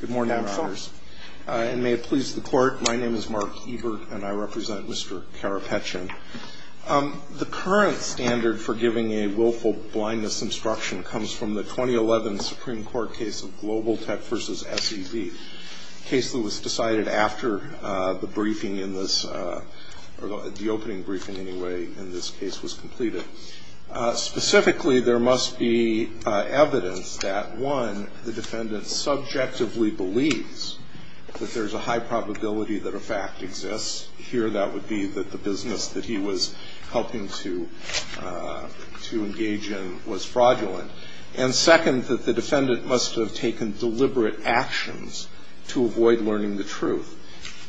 Good morning, Your Honors. And may it please the Court, my name is Mark Ebert and I represent Mr. Karapetyan. The current standard for giving a willful blindness instruction comes from the 2011 Supreme Court case of Global Tech v. SEB, a case that was decided after the briefing in this, or the opening briefing anyway, in this case was completed. Specifically, there must be evidence that, one, the defendant subjectively believes that there's a high probability that a fact exists. Here that would be that the business that he was helping to engage in was fraudulent. And second, that the defendant must have taken deliberate actions to avoid learning the truth.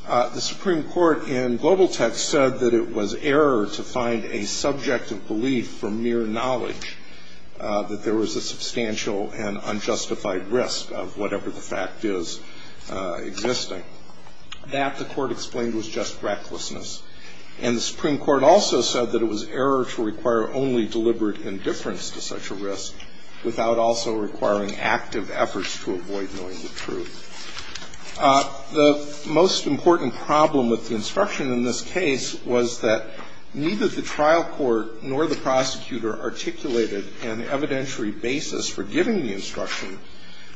The Supreme Court in Global Tech said that it was error to find a subject of belief for mere knowledge that there was a substantial and unjustified risk of whatever the fact is existing. That, the Court explained, was just recklessness. And the Supreme Court also said that it was error to require only deliberate indifference to such a risk without also requiring active efforts to avoid knowing the truth. The most important problem with the instruction in this case was that neither the trial court nor the prosecutor articulated an evidentiary basis for giving the instruction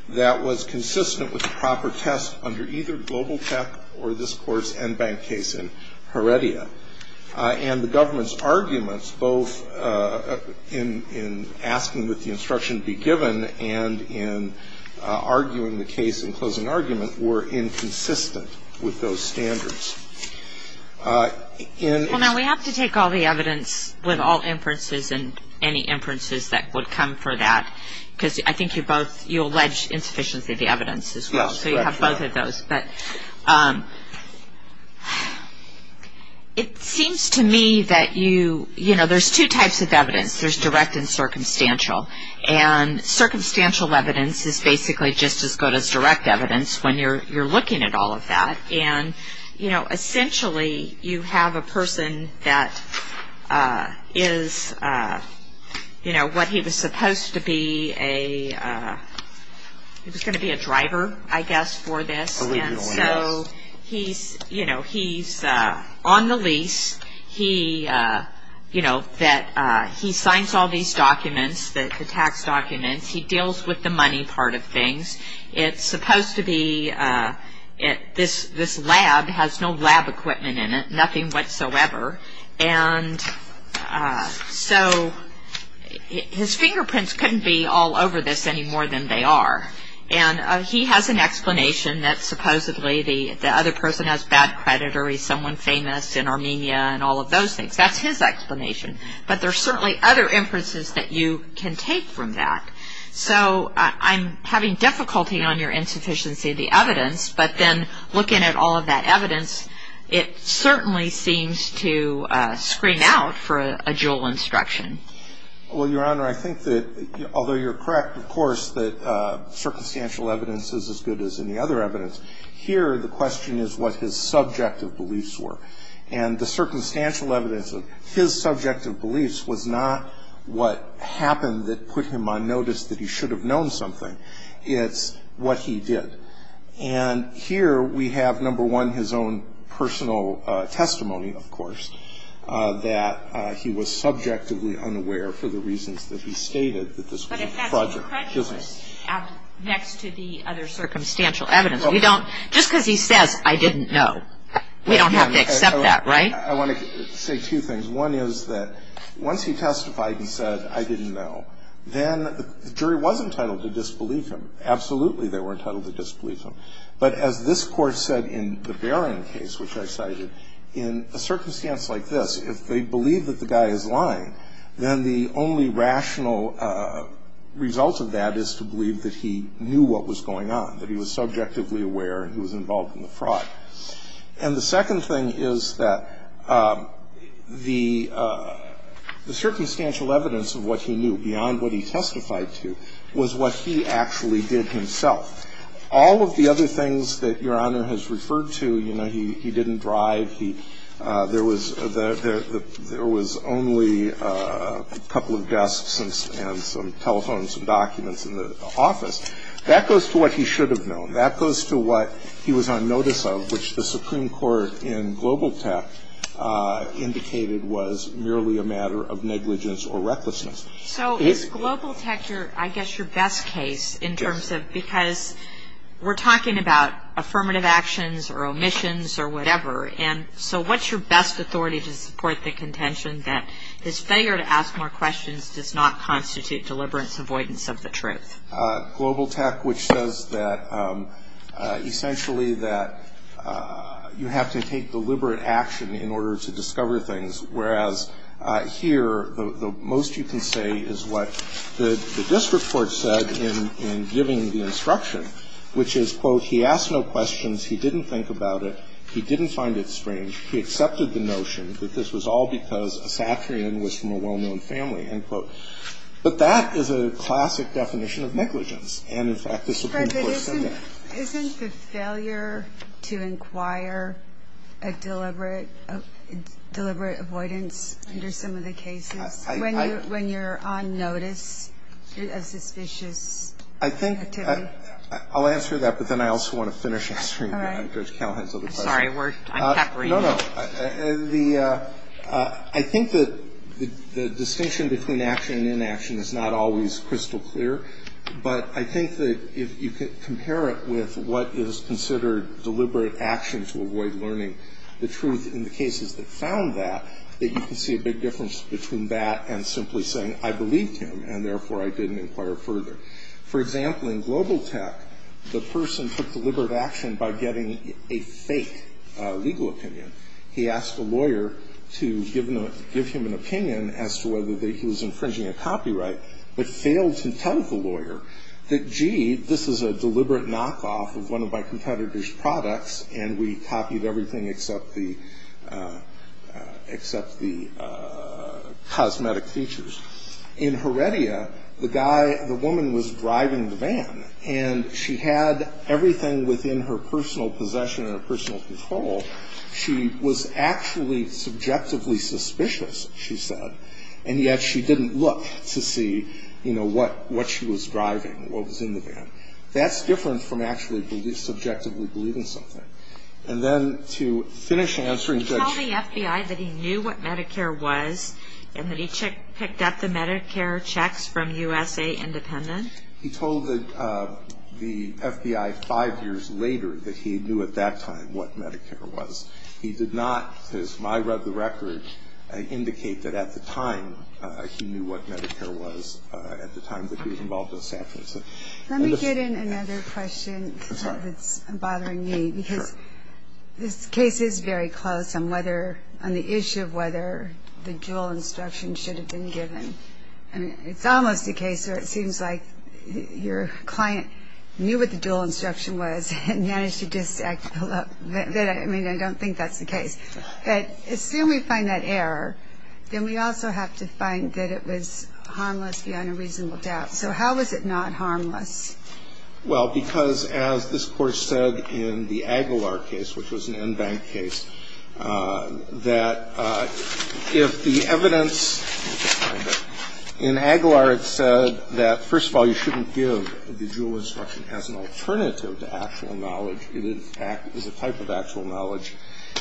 that was consistent with the proper test under either Global Tech or this Court's en banc case in Heredia. And the government's arguments, both in asking that the instruction be given and in arguing the case and closing argument, were inconsistent with those standards. Well, now, we have to take all the evidence with all inferences and any inferences that would come for that because I think you both, you allege insufficiently the evidence as well. Yes, that's right. So you have both of those. But it seems to me that you, you know, there's two types of evidence. There's direct and circumstantial. And circumstantial evidence is basically just as good as direct evidence when you're looking at all of that. And, you know, essentially, you have a person that is, you know, what he was supposed to be a, he was going to be a driver, I guess, for this. Allegedly, yes. So he's, you know, he's on the lease. He, you know, that he signs all these documents, the tax documents. He deals with the money part of things. It's supposed to be, this lab has no lab equipment in it, nothing whatsoever. And so his fingerprints couldn't be all over this any more than they are. And he has an explanation that supposedly the other person has bad credit or he's someone famous in Armenia and all of those things. That's his explanation. But there are certainly other inferences that you can take from that. So I'm having difficulty on your insufficiency of the evidence. But then looking at all of that evidence, it certainly seems to scream out for a dual instruction. Well, Your Honor, I think that although you're correct, of course, that circumstantial evidence is as good as any other evidence. Here the question is what his subjective beliefs were. And the circumstantial evidence of his subjective beliefs was not what happened that put him on notice that he should have known something. It's what he did. And here we have, number one, his own personal testimony, of course, that he was subjectively unaware for the reasons that he stated that this was a project. But if that's prejudice next to the other circumstantial evidence, just because he says, I didn't know, we don't have to accept that, right? I want to say two things. One is that once he testified and said, I didn't know, then the jury was entitled to disbelieve him. Absolutely they were entitled to disbelieve him. But as this Court said in the Barron case, which I cited, in a circumstance like this, if they believe that the guy is lying, then the only rational result of that is to believe that he knew what was going on, that he was subjectively aware and he was involved in the fraud. And the second thing is that the circumstantial evidence of what he knew, beyond what he testified to, was what he actually did himself. All of the other things that Your Honor has referred to, you know, he didn't drive, there was only a couple of desks and some telephones and documents in the office, that goes to what he should have known. That goes to what he was on notice of, which the Supreme Court in Global Tech indicated was merely a matter of negligence or recklessness. So is Global Tech, I guess, your best case in terms of, because we're talking about affirmative actions or omissions or whatever, and so what's your best authority to support the contention that this failure to ask more questions does not constitute deliberate avoidance of the truth? Global Tech, which says that, essentially, that you have to take deliberate action in order to discover things, whereas here the most you can say is what the district court said in giving the instruction, which is, quote, he asked no questions, he didn't think about it, he didn't find it strange, he accepted the notion that this was all because a Satrian was from a well-known family, end quote. But that is a classic definition of negligence. And, in fact, the Supreme Court said that. Isn't the failure to inquire a deliberate avoidance under some of the cases, when you're on notice of suspicious activity? I'll answer that, but then I also want to finish answering Judge Callahan's other question. I'm sorry. No, no. I think that the distinction between action and inaction is not always crystal clear, but I think that if you compare it with what is considered deliberate action to avoid learning the truth in the cases that found that, that you can see a big difference between that and simply saying I believed him and, therefore, I didn't inquire further. For example, in Global Tech, the person took deliberate action by getting a fake legal opinion. He asked a lawyer to give him an opinion as to whether he was infringing a copyright, but failed to tell the lawyer that, gee, this is a deliberate knockoff of one of my competitor's products, and we copied everything except the cosmetic features. In Heredia, the woman was driving the van, and she had everything within her personal possession and her personal control. She was actually subjectively suspicious, she said, and yet she didn't look to see, you know, what she was driving, what was in the van. That's different from actually subjectively believing something. And then to finish answering Judge – Did he tell the FBI that he knew what Medicare was and that he picked up the Medicare checks from USA Independent? He told the FBI five years later that he knew at that time what Medicare was. He did not, as I read the record, indicate that at the time he knew what Medicare was at the time that he was involved in the sanctions. Let me get in another question that's bothering me, because this case is very close on whether – on the issue of whether the dual instruction should have been given. I mean, it's almost a case where it seems like your client knew what the dual instruction was and managed to just pull up – I mean, I don't think that's the case. But assume we find that error, then we also have to find that it was harmless beyond a reasonable doubt. So how was it not harmless? Well, because as this Court said in the Aguilar case, which was an en banc case, that if the evidence – in Aguilar it said that, first of all, you shouldn't give the dual instruction as an alternative to actual knowledge. It is a type of actual knowledge,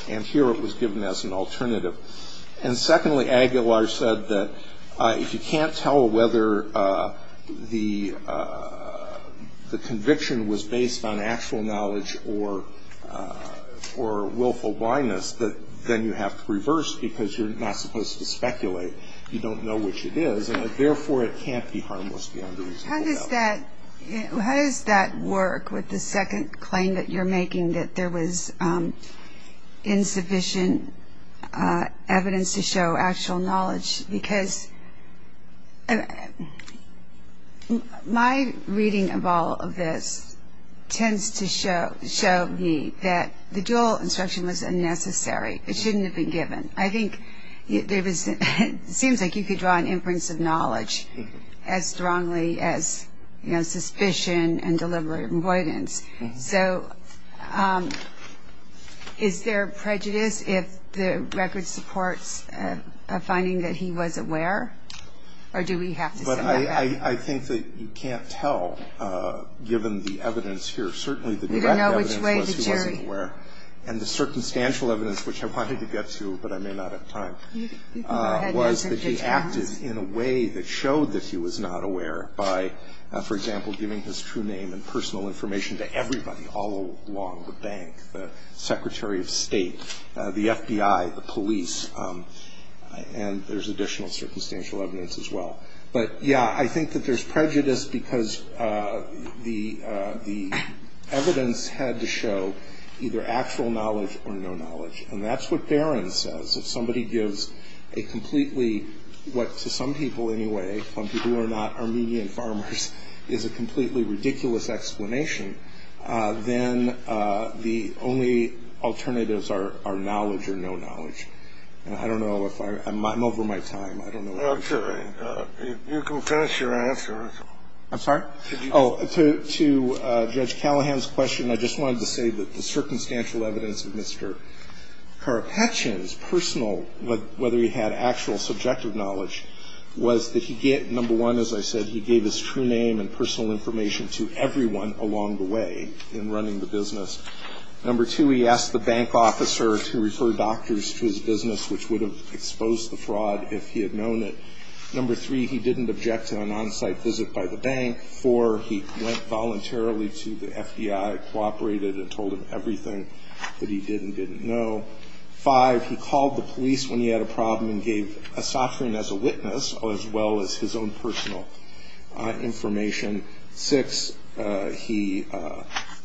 and here it was given as an alternative. And secondly, Aguilar said that if you can't tell whether the conviction was based on actual knowledge or willful blindness, then you have to reverse, because you're not supposed to speculate. You don't know which it is, and therefore it can't be harmless beyond a reasonable doubt. How does that work with the second claim that you're making, that there was insufficient evidence to show actual knowledge? Because my reading of all of this tends to show me that the dual instruction was unnecessary. It shouldn't have been given. I think it seems like you could draw an inference of knowledge as strongly as, you know, suspicion and deliberate avoidance. So is there prejudice if the record supports a finding that he was aware, or do we have to say that? But I think that you can't tell, given the evidence here. Certainly the direct evidence was he wasn't aware. You don't know which way the jury – And the circumstantial evidence, which I wanted to get to, but I may not have time, was that he acted in a way that showed that he was not aware by, for example, giving his true name and personal information to everybody all along the bank, the Secretary of State, the FBI, the police. And there's additional circumstantial evidence as well. But, yeah, I think that there's prejudice because the evidence had to show either actual knowledge or no knowledge. And that's what Barron says. If somebody gives a completely – what to some people anyway, some people who are not Armenian farmers, is a completely ridiculous explanation, then the only alternatives are knowledge or no knowledge. And I don't know if I'm – I'm over my time. I don't know. I'm sorry. You can finish your answer. I'm sorry? Oh, to Judge Callahan's question, I just wanted to say that the circumstantial evidence of Mr. Karapetian's personal, whether he had actual subjective knowledge, was that he, number one, as I said, he gave his true name and personal information to everyone along the way in running the business. Number two, he asked the bank officer to refer doctors to his business, which would have exposed the fraud if he had known it. Number three, he didn't object to an on-site visit by the bank. Four, he went voluntarily to the FBI, cooperated and told them everything that he did and didn't know. Five, he called the police when he had a problem and gave a sovereign as a witness, as well as his own personal information. Six, he –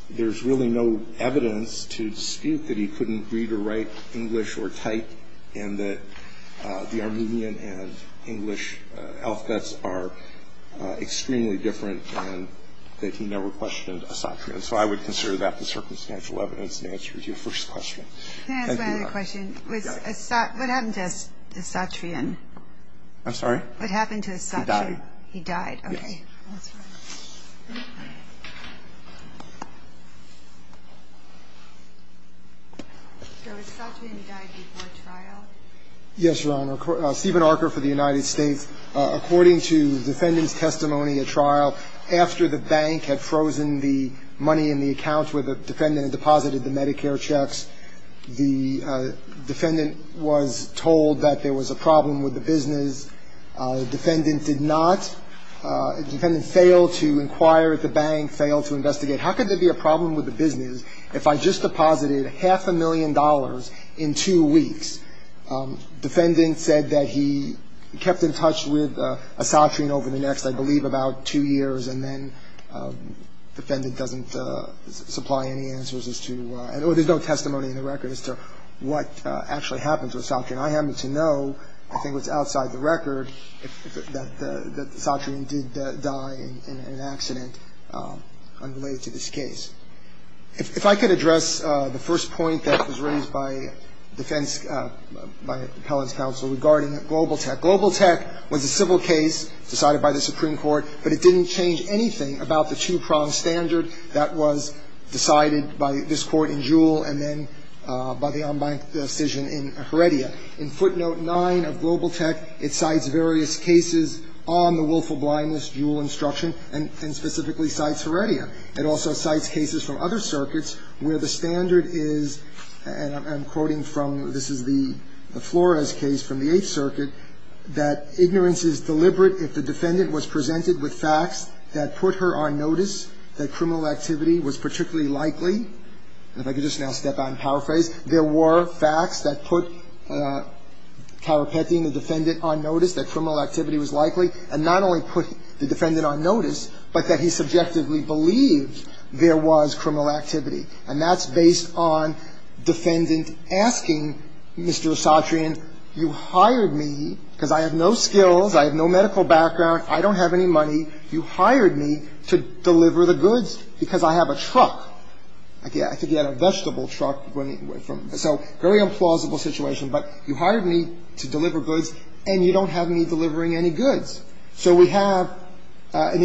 there's really no evidence to dispute that he couldn't read or write English or type and that the Armenian and English alphabets are extremely different and that he never questioned a Satrian. So I would consider that the circumstantial evidence that answers your first question. Can I ask one other question? Yes. What happened to a Satrian? I'm sorry? What happened to a Satrian? He died. He died. Okay. That's right. So a Satrian died before trial? Yes, Your Honor. Stephen Arker for the United States. According to the defendant's testimony at trial, after the bank had frozen the money in the account where the defendant had deposited the Medicare checks, the defendant was told that there was a problem with the business. The defendant did not – the defendant failed to inquire at the bank, failed to investigate. How could there be a problem with the business if I just deposited half a million dollars in two weeks? The defendant said that he kept in touch with a Satrian over the next, I believe, about two years, and then the defendant doesn't supply any answers as to – or there's no testimony in the record as to what actually happened to a Satrian. I happen to know, I think what's outside the record, that the Satrian did die in an accident unrelated to this case. If I could address the first point that was raised by defense – by the appellant's counsel regarding GlobalTech. GlobalTech was a civil case decided by the Supreme Court, but it didn't change anything about the two-prong standard that was decided by this court in Jewell and then by the en banc decision in Heredia. In footnote 9 of GlobalTech, it cites various cases on the willful blindness Jewell instruction, and specifically cites Heredia. It also cites cases from other circuits where the standard is, and I'm quoting from – this is the Flores case from the Eighth Circuit, that ignorance is deliberate if the defendant was presented with facts that put her on notice, that criminal activity was particularly likely. And if I could just now step out and paraphrase, there were facts that put Tarapetti, the defendant, on notice that criminal activity was likely, and not only put the defendant on notice, but that he subjectively believed there was criminal activity. And that's based on defendant asking Mr. Satrian, you hired me because I have no skills, I have no medical background, I don't have any money. You hired me to deliver the goods because I have a truck. Again, I think he had a vegetable truck. So very implausible situation. But you hired me to deliver goods, and you don't have me delivering any goods. So we have an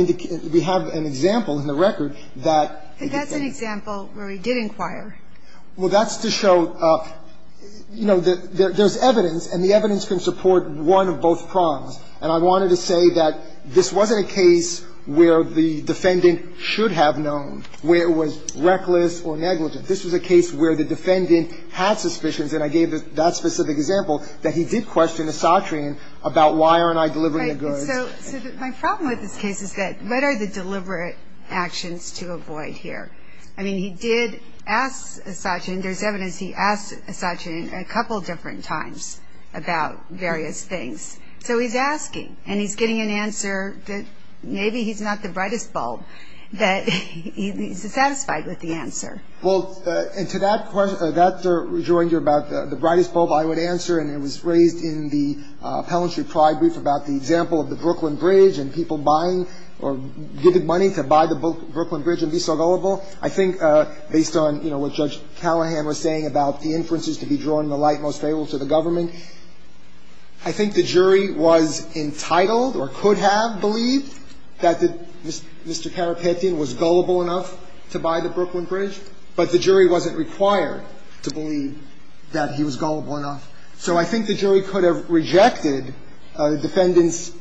example in the record that the defendant... But that's an example where we did inquire. Well, that's to show, you know, there's evidence, and the evidence can support one of both prongs. And I wanted to say that this wasn't a case where the defendant should have known, where it was reckless or negligent. This was a case where the defendant had suspicions, and I gave that specific example, that he did question Satrian about why aren't I delivering the goods. So my problem with this case is that what are the deliberate actions to avoid here? I mean, he did ask Satrian. There's evidence he asked Satrian a couple different times about various things. So he's asking, and he's getting an answer that maybe he's not the brightest bulb, that he's satisfied with the answer. Well, and to that question, that's a rejoinder about the brightest bulb I would answer, and it was raised in the Appellantry Pride Brief about the example of the Brooklyn Bridge and people buying or giving money to buy the Brooklyn Bridge and be so gullible. I think based on, you know, what Judge Callahan was saying about the inferences to be drawing the light most favorable to the government, I think the jury was entitled or could have believed that Mr. Karapetian was gullible enough to buy the Brooklyn Bridge, but the jury wasn't required to believe that he was gullible enough. So I think the jury could have rejected the defendant's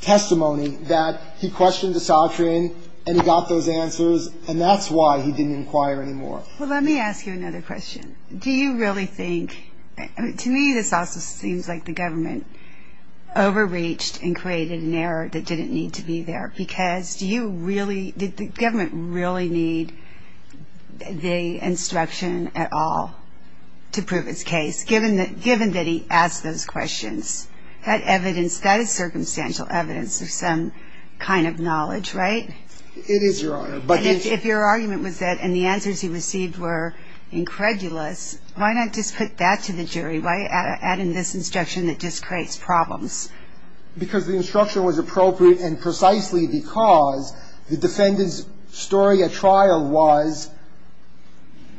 testimony that he questioned Satrian and he got those answers, and that's why he didn't inquire anymore. Well, let me ask you another question. Do you really think – to me, this also seems like the government overreached and created an error that didn't need to be there, because do you really – did the government really need the instruction at all to prove its case, given that he asked those questions? That evidence, that is circumstantial evidence of some kind of knowledge, right? It is, Your Honor. And if your argument was that – and the answers he received were incredulous, why not just put that to the jury? Why add in this instruction that just creates problems? Because the instruction was appropriate and precisely because the defendant's story at trial was,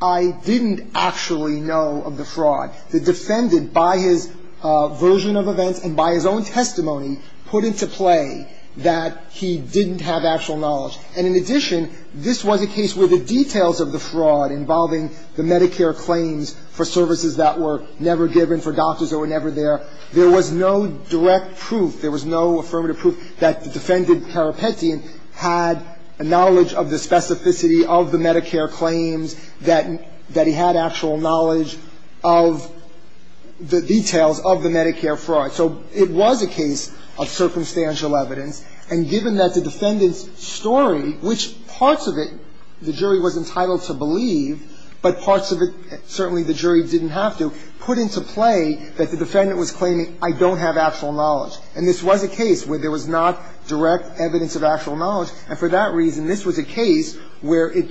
I didn't actually know of the fraud. The defendant, by his version of events and by his own testimony, put into play that he didn't have actual knowledge. And in addition, this was a case where the details of the fraud involving the Medicare claims for services that were never given, for doctors that were never there, there was no direct proof, there was no affirmative proof that the defendant, Karapetian, had a knowledge of the specificity of the Medicare claims, that he had actual knowledge of the details of the Medicare fraud. So it was a case of circumstantial evidence. And given that the defendant's story, which parts of it the jury was entitled to believe, but parts of it certainly the jury didn't have to, put into play that the defendant was claiming, I don't have actual knowledge. And this was a case where there was not direct evidence of actual knowledge. And for that reason, this was a case where it,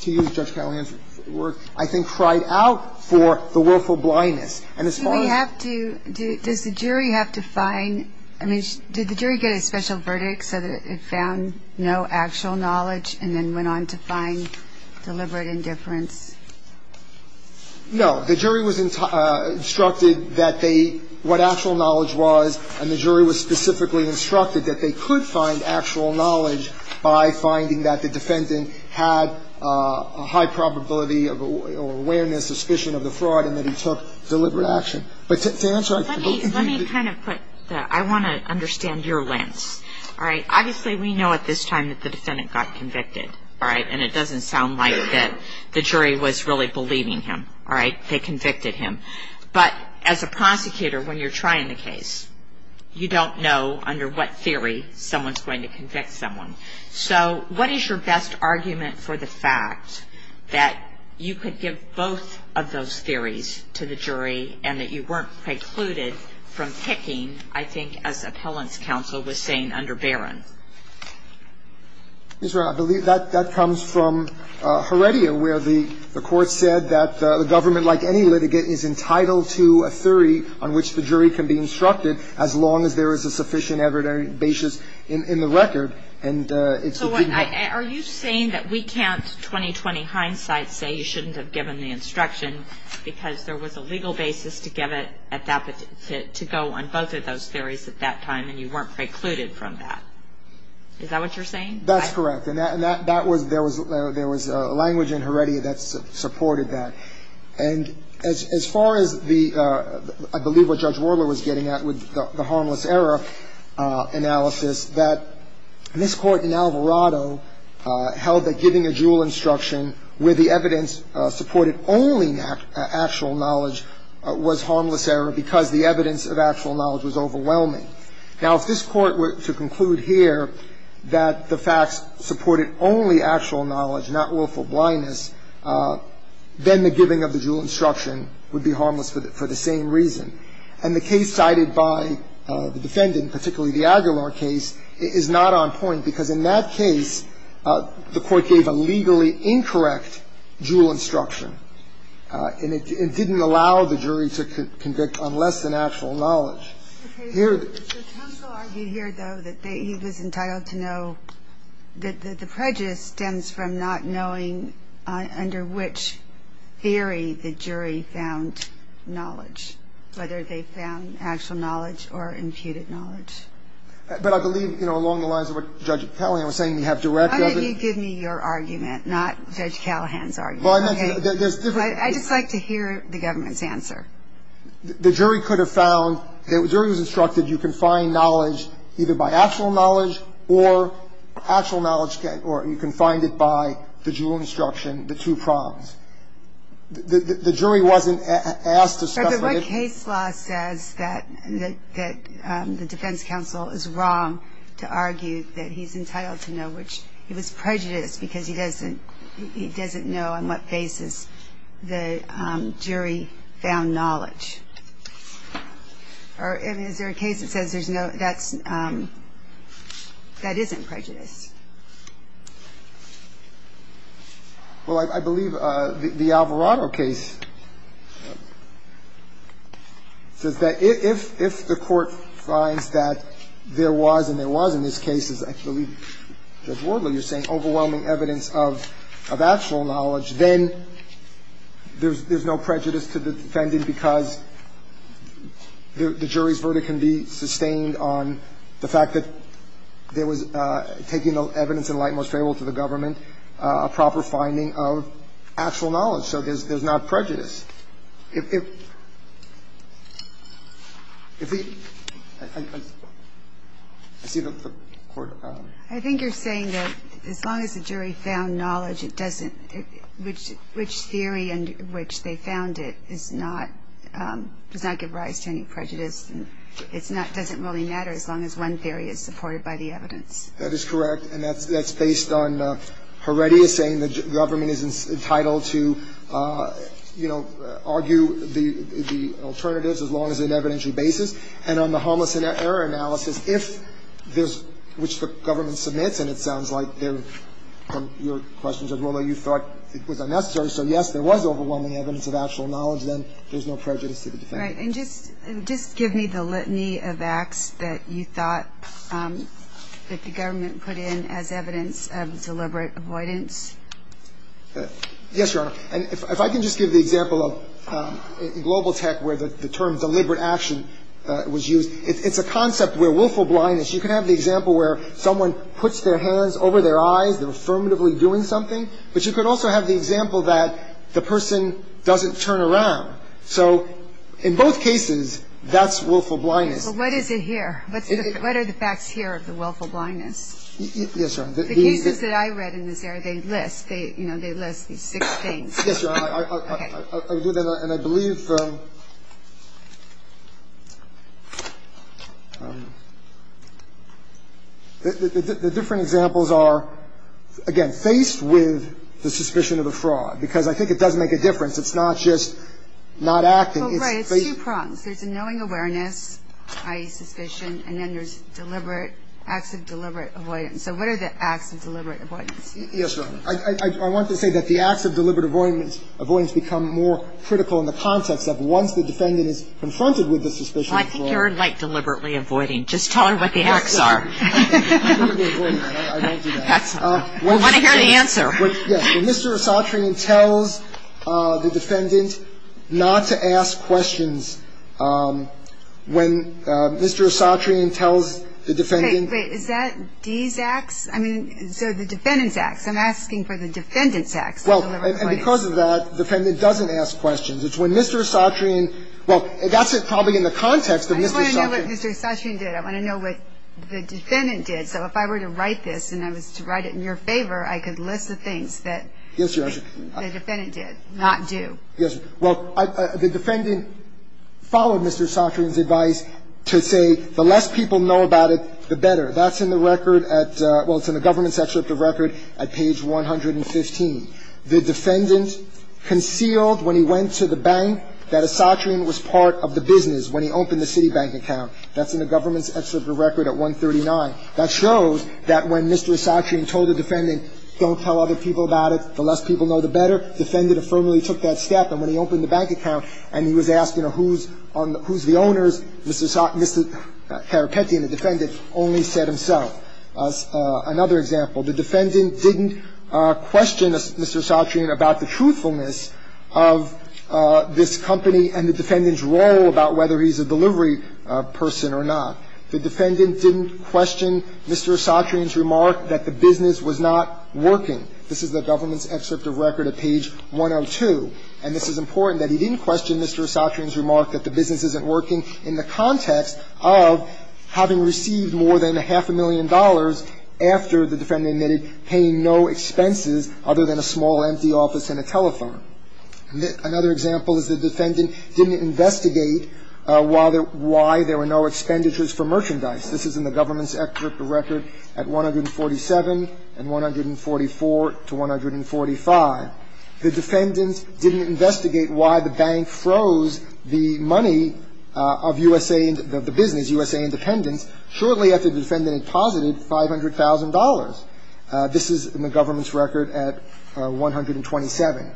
to use Judge Callahan's word, I think cried out for the willful blindness. And as far as the jury has to find – I mean, did the jury get a special verdict so that it found no actual knowledge and then went on to find deliberate indifference? No. The jury was instructed that they – what actual knowledge was, and the jury was specifically instructed that they could find actual knowledge by finding that the defendant had a high probability or awareness, suspicion of the fraud, and that he took deliberate action. But to answer – Let me kind of put the – I want to understand your lens. All right. Obviously, we know at this time that the defendant got convicted. All right. And it doesn't sound like that the jury was really believing him. All right. They convicted him. But as a prosecutor, when you're trying the case, you don't know under what theory someone's going to convict someone. So what is your best argument for the fact that you could give both of those I think as appellant's counsel was saying under Barron. Ms. Brown, I believe that comes from Heredia, where the court said that the government, like any litigate, is entitled to a theory on which the jury can be instructed as long as there is a sufficient evidence basis in the record. And it's a – So are you saying that we can't, 20-20 hindsight, say you shouldn't have given the instruction because there was a legal basis to give at that – to go on both of those theories at that time and you weren't precluded from that? Is that what you're saying? That's correct. And that was – there was language in Heredia that supported that. And as far as the – I believe what Judge Worler was getting at with the harmless error analysis, that this court in Alvarado held that giving a dual instruction where the evidence supported only actual knowledge was harmless error because the evidence of actual knowledge was overwhelming. Now, if this Court were to conclude here that the facts supported only actual knowledge, not willful blindness, then the giving of the dual instruction would be harmless for the same reason. And the case cited by the defendant, particularly the Aguilar case, is not on point because in that case the Court gave a legally incorrect dual instruction and it didn't allow the jury to convict on less than actual knowledge. Okay. The counsel argued here, though, that they – he was entitled to know that the prejudice stems from not knowing under which theory the jury found knowledge, whether they found actual knowledge or imputed knowledge. But I believe, you know, along the lines of what Judge Callahan was saying, you have direct evidence. Why don't you give me your argument, not Judge Callahan's argument? Okay. I just like to hear the government's answer. The jury could have found – the jury was instructed you can find knowledge either by actual knowledge or actual knowledge – or you can find it by the dual instruction, the two prongs. The jury wasn't asked to speculate. Is there a case law says that the defense counsel is wrong to argue that he's entitled to know which – he was prejudiced because he doesn't know on what basis the jury found knowledge? Or is there a case that says there's no – that's – that isn't prejudice? Well, I believe the Alvarado case says that if the court finds that there was, and there was in this case, as I believe Judge Wardler, you're saying, overwhelming evidence of actual knowledge, then there's no prejudice to the defendant because the jury's verdict can be sustained on the fact that there was, taking evidence in light most favorable to the government, a proper finding of actual knowledge. So there's not prejudice. If the – I see the Court – I think you're saying that as long as the jury found knowledge, it doesn't – which theory in which they found it is not – does not give rise to any prejudice. It's not – doesn't really matter as long as one theory is supported by the evidence. That is correct. And that's based on Heredia saying the government is entitled to, you know, argue the alternatives as long as on an evidentiary basis. And on the harmless error analysis, if there's – which the government submits, and it sounds like from your questions as well that you thought it was unnecessary. So, yes, there was overwhelming evidence of actual knowledge. Then there's no prejudice to the defendant. Right. And just give me the litany of acts that you thought that the government put in as evidence of deliberate avoidance. Yes, Your Honor. And if I can just give the example of Global Tech where the term deliberate action was used. It's a concept where willful blindness – you can have the example where someone puts their hands over their eyes, they're affirmatively doing something. But you could also have the example that the person doesn't turn around. So in both cases, that's willful blindness. Well, what is it here? What are the facts here of the willful blindness? Yes, Your Honor. The cases that I read in this area, they list. They, you know, they list these six things. Yes, Your Honor. Okay. And I believe the different examples are, again, faced with the suspicion of a fraud. Because I think it does make a difference. It's not just not acting. Well, right. It's two prongs. There's a knowing awareness, i.e., suspicion. And then there's deliberate – acts of deliberate avoidance. So what are the acts of deliberate avoidance? Yes, Your Honor. I want to say that the acts of deliberate avoidance become more critical in the context of once the defendant is confronted with the suspicion of fraud. Well, I think you're, like, deliberately avoiding. Just tell her what the acts are. Deliberate avoidance. I don't do that. We want to hear the answer. Yes. When Mr. Esatrian tells the defendant not to ask questions, when Mr. Esatrian tells the defendant – Wait, wait. Is that D's acts? I mean, so the defendant's acts. I'm asking for the defendant's acts of deliberate avoidance. Well, and because of that, the defendant doesn't ask questions. It's when Mr. Esatrian – well, that's probably in the context of Mr. Esatrian. I want to know what Mr. Esatrian did. I want to know what the defendant did. So if I were to write this and I was to write it in your favor, I could list the things that the defendant did, not do. Yes, Your Honor. Well, the defendant followed Mr. Esatrian's advice to say the less people know about it, the better. That's in the record at – well, it's in the government's excerpt of record at page 115. The defendant concealed when he went to the bank that Esatrian was part of the business when he opened the Citibank account. That's in the government's excerpt of record at 139. That shows that when Mr. Esatrian told the defendant don't tell other people about it, the less people know, the better, the defendant affirmatively took that step. And when he opened the bank account and he was asked, you know, who's the owners, Mr. Carapetti and the defendant only said himself. Another example. The defendant didn't question Mr. Esatrian about the truthfulness of this company and the defendant's role about whether he's a delivery person or not. The defendant didn't question Mr. Esatrian's remark that the business was not working. This is the government's excerpt of record at page 102. And this is important, that he didn't question Mr. Esatrian's remark that the business isn't working in the context of having received more than a half a million dollars after the defendant admitted paying no expenses other than a small empty office and a telephone. Another example is the defendant didn't investigate why there were no expenditures for merchandise. This is in the government's excerpt of record at 147 and 144 to 145. The defendant didn't investigate why the bank froze the money of U.S.A. and the business, U.S.A. Independence, shortly after the defendant had posited $500,000. This is in the government's record at 127.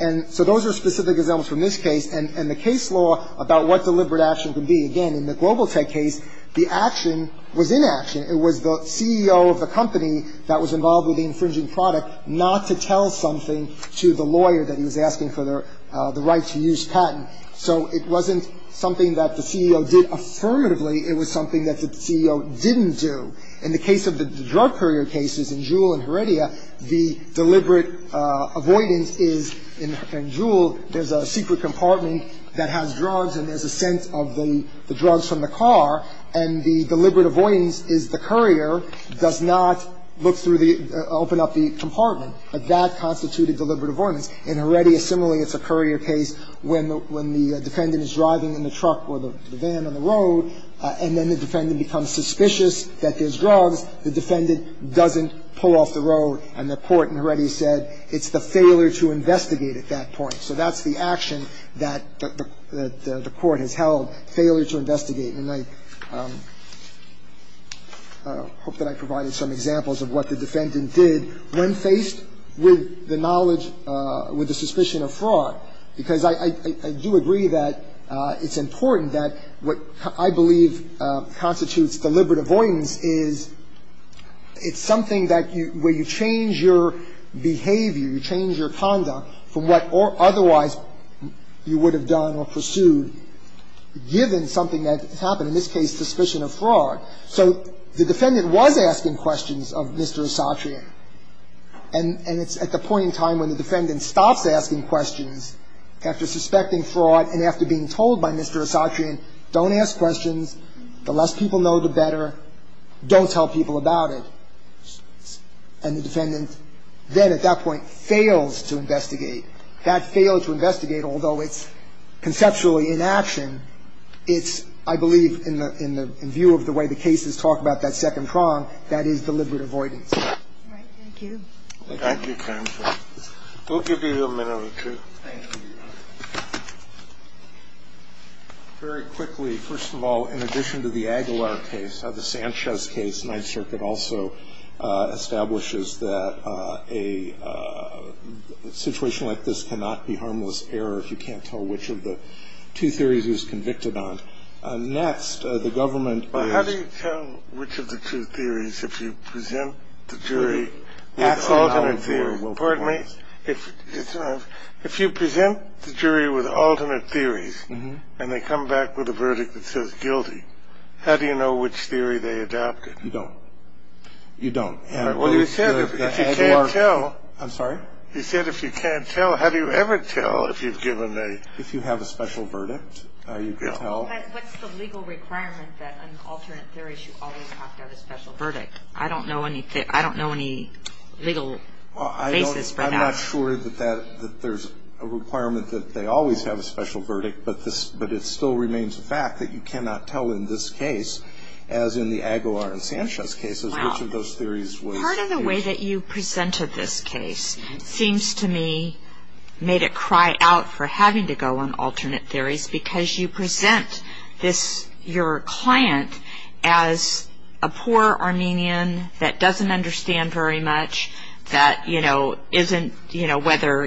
And so those are specific examples from this case and the case law about what deliberate action can be. Again, in the Global Tech case, the action was inaction. It was the CEO of the company that was involved with the infringing product not to tell something to the lawyer that he was asking for the right to use patent. So it wasn't something that the CEO did affirmatively. It was something that the CEO didn't do. In the case of the drug courier cases in Juul and Heredia, the deliberate avoidance is in Juul, there's a secret compartment that has drugs and there's a scent of the drugs from the car. And the deliberate avoidance is the courier does not look through the open up the compartment. That constituted deliberate avoidance. In Heredia, similarly, it's a courier case when the defendant is driving in the truck or the van on the road, and then the defendant becomes suspicious that there's drugs. The defendant doesn't pull off the road. And the court in Heredia said it's the failure to investigate at that point. So that's the action that the court has held, failure to investigate. And I hope that I provided some examples of what the defendant did when faced with the knowledge with the suspicion of fraud, because I do agree that it's important that what I believe constitutes deliberate avoidance is it's something that where you change your behavior, you change your conduct from what otherwise you would have done or pursued, given something that happened, in this case, suspicion of fraud. So the defendant was asking questions of Mr. Esatrian. And it's at the point in time when the defendant stops asking questions after suspecting fraud and after being told by Mr. Esatrian, don't ask questions. The less people know, the better. Don't tell people about it. And the defendant then at that point fails to investigate. That failed to investigate, although it's conceptually inaction, it's, I believe, in the view of the way the case is talked about, that second prong, that is deliberate avoidance. Thank you. Thank you, counsel. We'll give you a minute or two. Thank you. Very quickly, first of all, in addition to the Aguilar case, the Sanchez case, Ninth Circuit also establishes that a situation like this cannot be harmless error if you can't tell which of the two theories he was convicted on. Next, the government is. Well, how do you tell which of the two theories if you present the jury with alternate theories? Pardon me? If you present the jury with alternate theories and they come back with a verdict that says guilty, how do you know which theory they adopted? You don't. You don't. Well, you said if you can't tell. I'm sorry? You said if you can't tell. How do you ever tell if you've given a... If you have a special verdict, you tell. What's the legal requirement that an alternate theory should always have a special verdict? I don't know any legal basis for that. I'm not sure that there's a requirement that they always have a special verdict, but it still remains a fact that you cannot tell in this case, as in the Aguilar and Sanchez cases, which of those theories was... Part of the way that you presented this case seems to me made it cry out for having to go on alternate theories because you present your client as a poor Armenian that doesn't understand very much, that isn't, you know, whether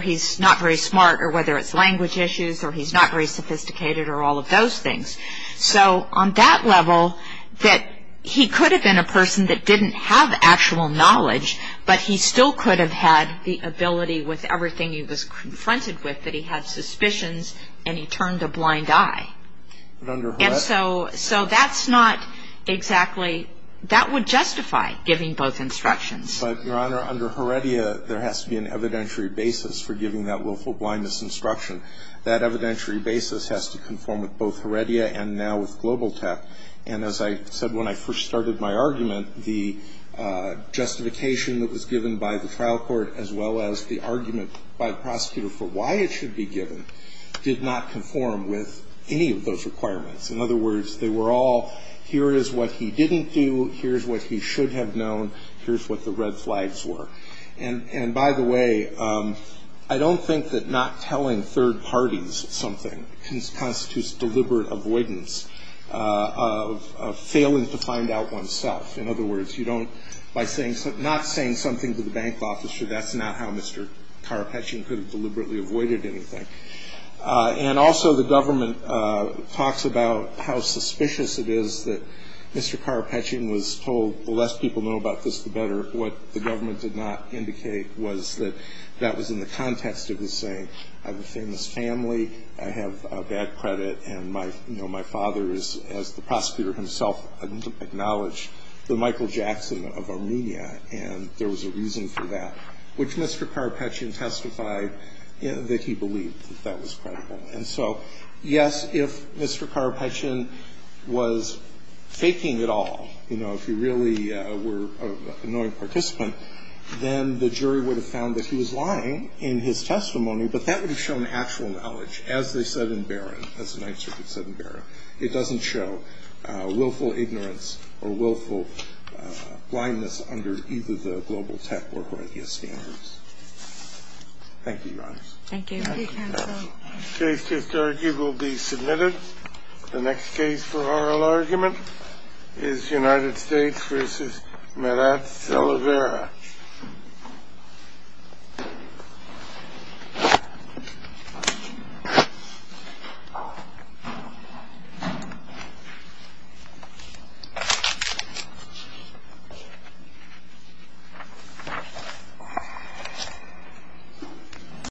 he's not very smart or whether it's language issues or he's not very sophisticated or all of those things. So on that level, that he could have been a person that didn't have actual knowledge, but he still could have had the ability with everything he was confronted with, that he had suspicions and he turned a blind eye. And so that's not exactly... That would justify giving both instructions. But, Your Honor, under Heredia, there has to be an evidentiary basis for giving that willful blindness instruction. That evidentiary basis has to conform with both Heredia and now with Global Tech. And as I said when I first started my argument, the justification that was given by the trial court as well as the argument by the prosecutor for why it should be given did not conform with any of those requirements. In other words, they were all, here is what he didn't do, here's what he should have known, here's what the red flags were. And by the way, I don't think that not telling third parties something constitutes deliberate avoidance of failing to find out oneself. In other words, you don't... By not saying something to the bank officer, that's not how Mr. Karapetian could have deliberately avoided anything. And also the government talks about how suspicious it is that Mr. Karapetian was told, the less people know about this, the better. What the government did not indicate was that that was in the context of his saying, I have a famous family, I have bad credit, and my father is, as the prosecutor himself acknowledged, the Michael Jackson of Armenia. And there was a reason for that, which Mr. Karapetian testified that he believed that that was credible. And so, yes, if Mr. Karapetian was faking it all, you know, if he really were an annoying participant, then the jury would have found that he was lying in his testimony, but that would have shown actual knowledge. As they said in Barron, as the Ninth Circuit said in Barron, it doesn't show willful ignorance or willful blindness under either the global tech or horeca standards. Thank you, Your Honors. Thank you. Thank you, counsel. Case to argue will be submitted. The next case for oral argument is United States v. Marat Salavera. Thank you.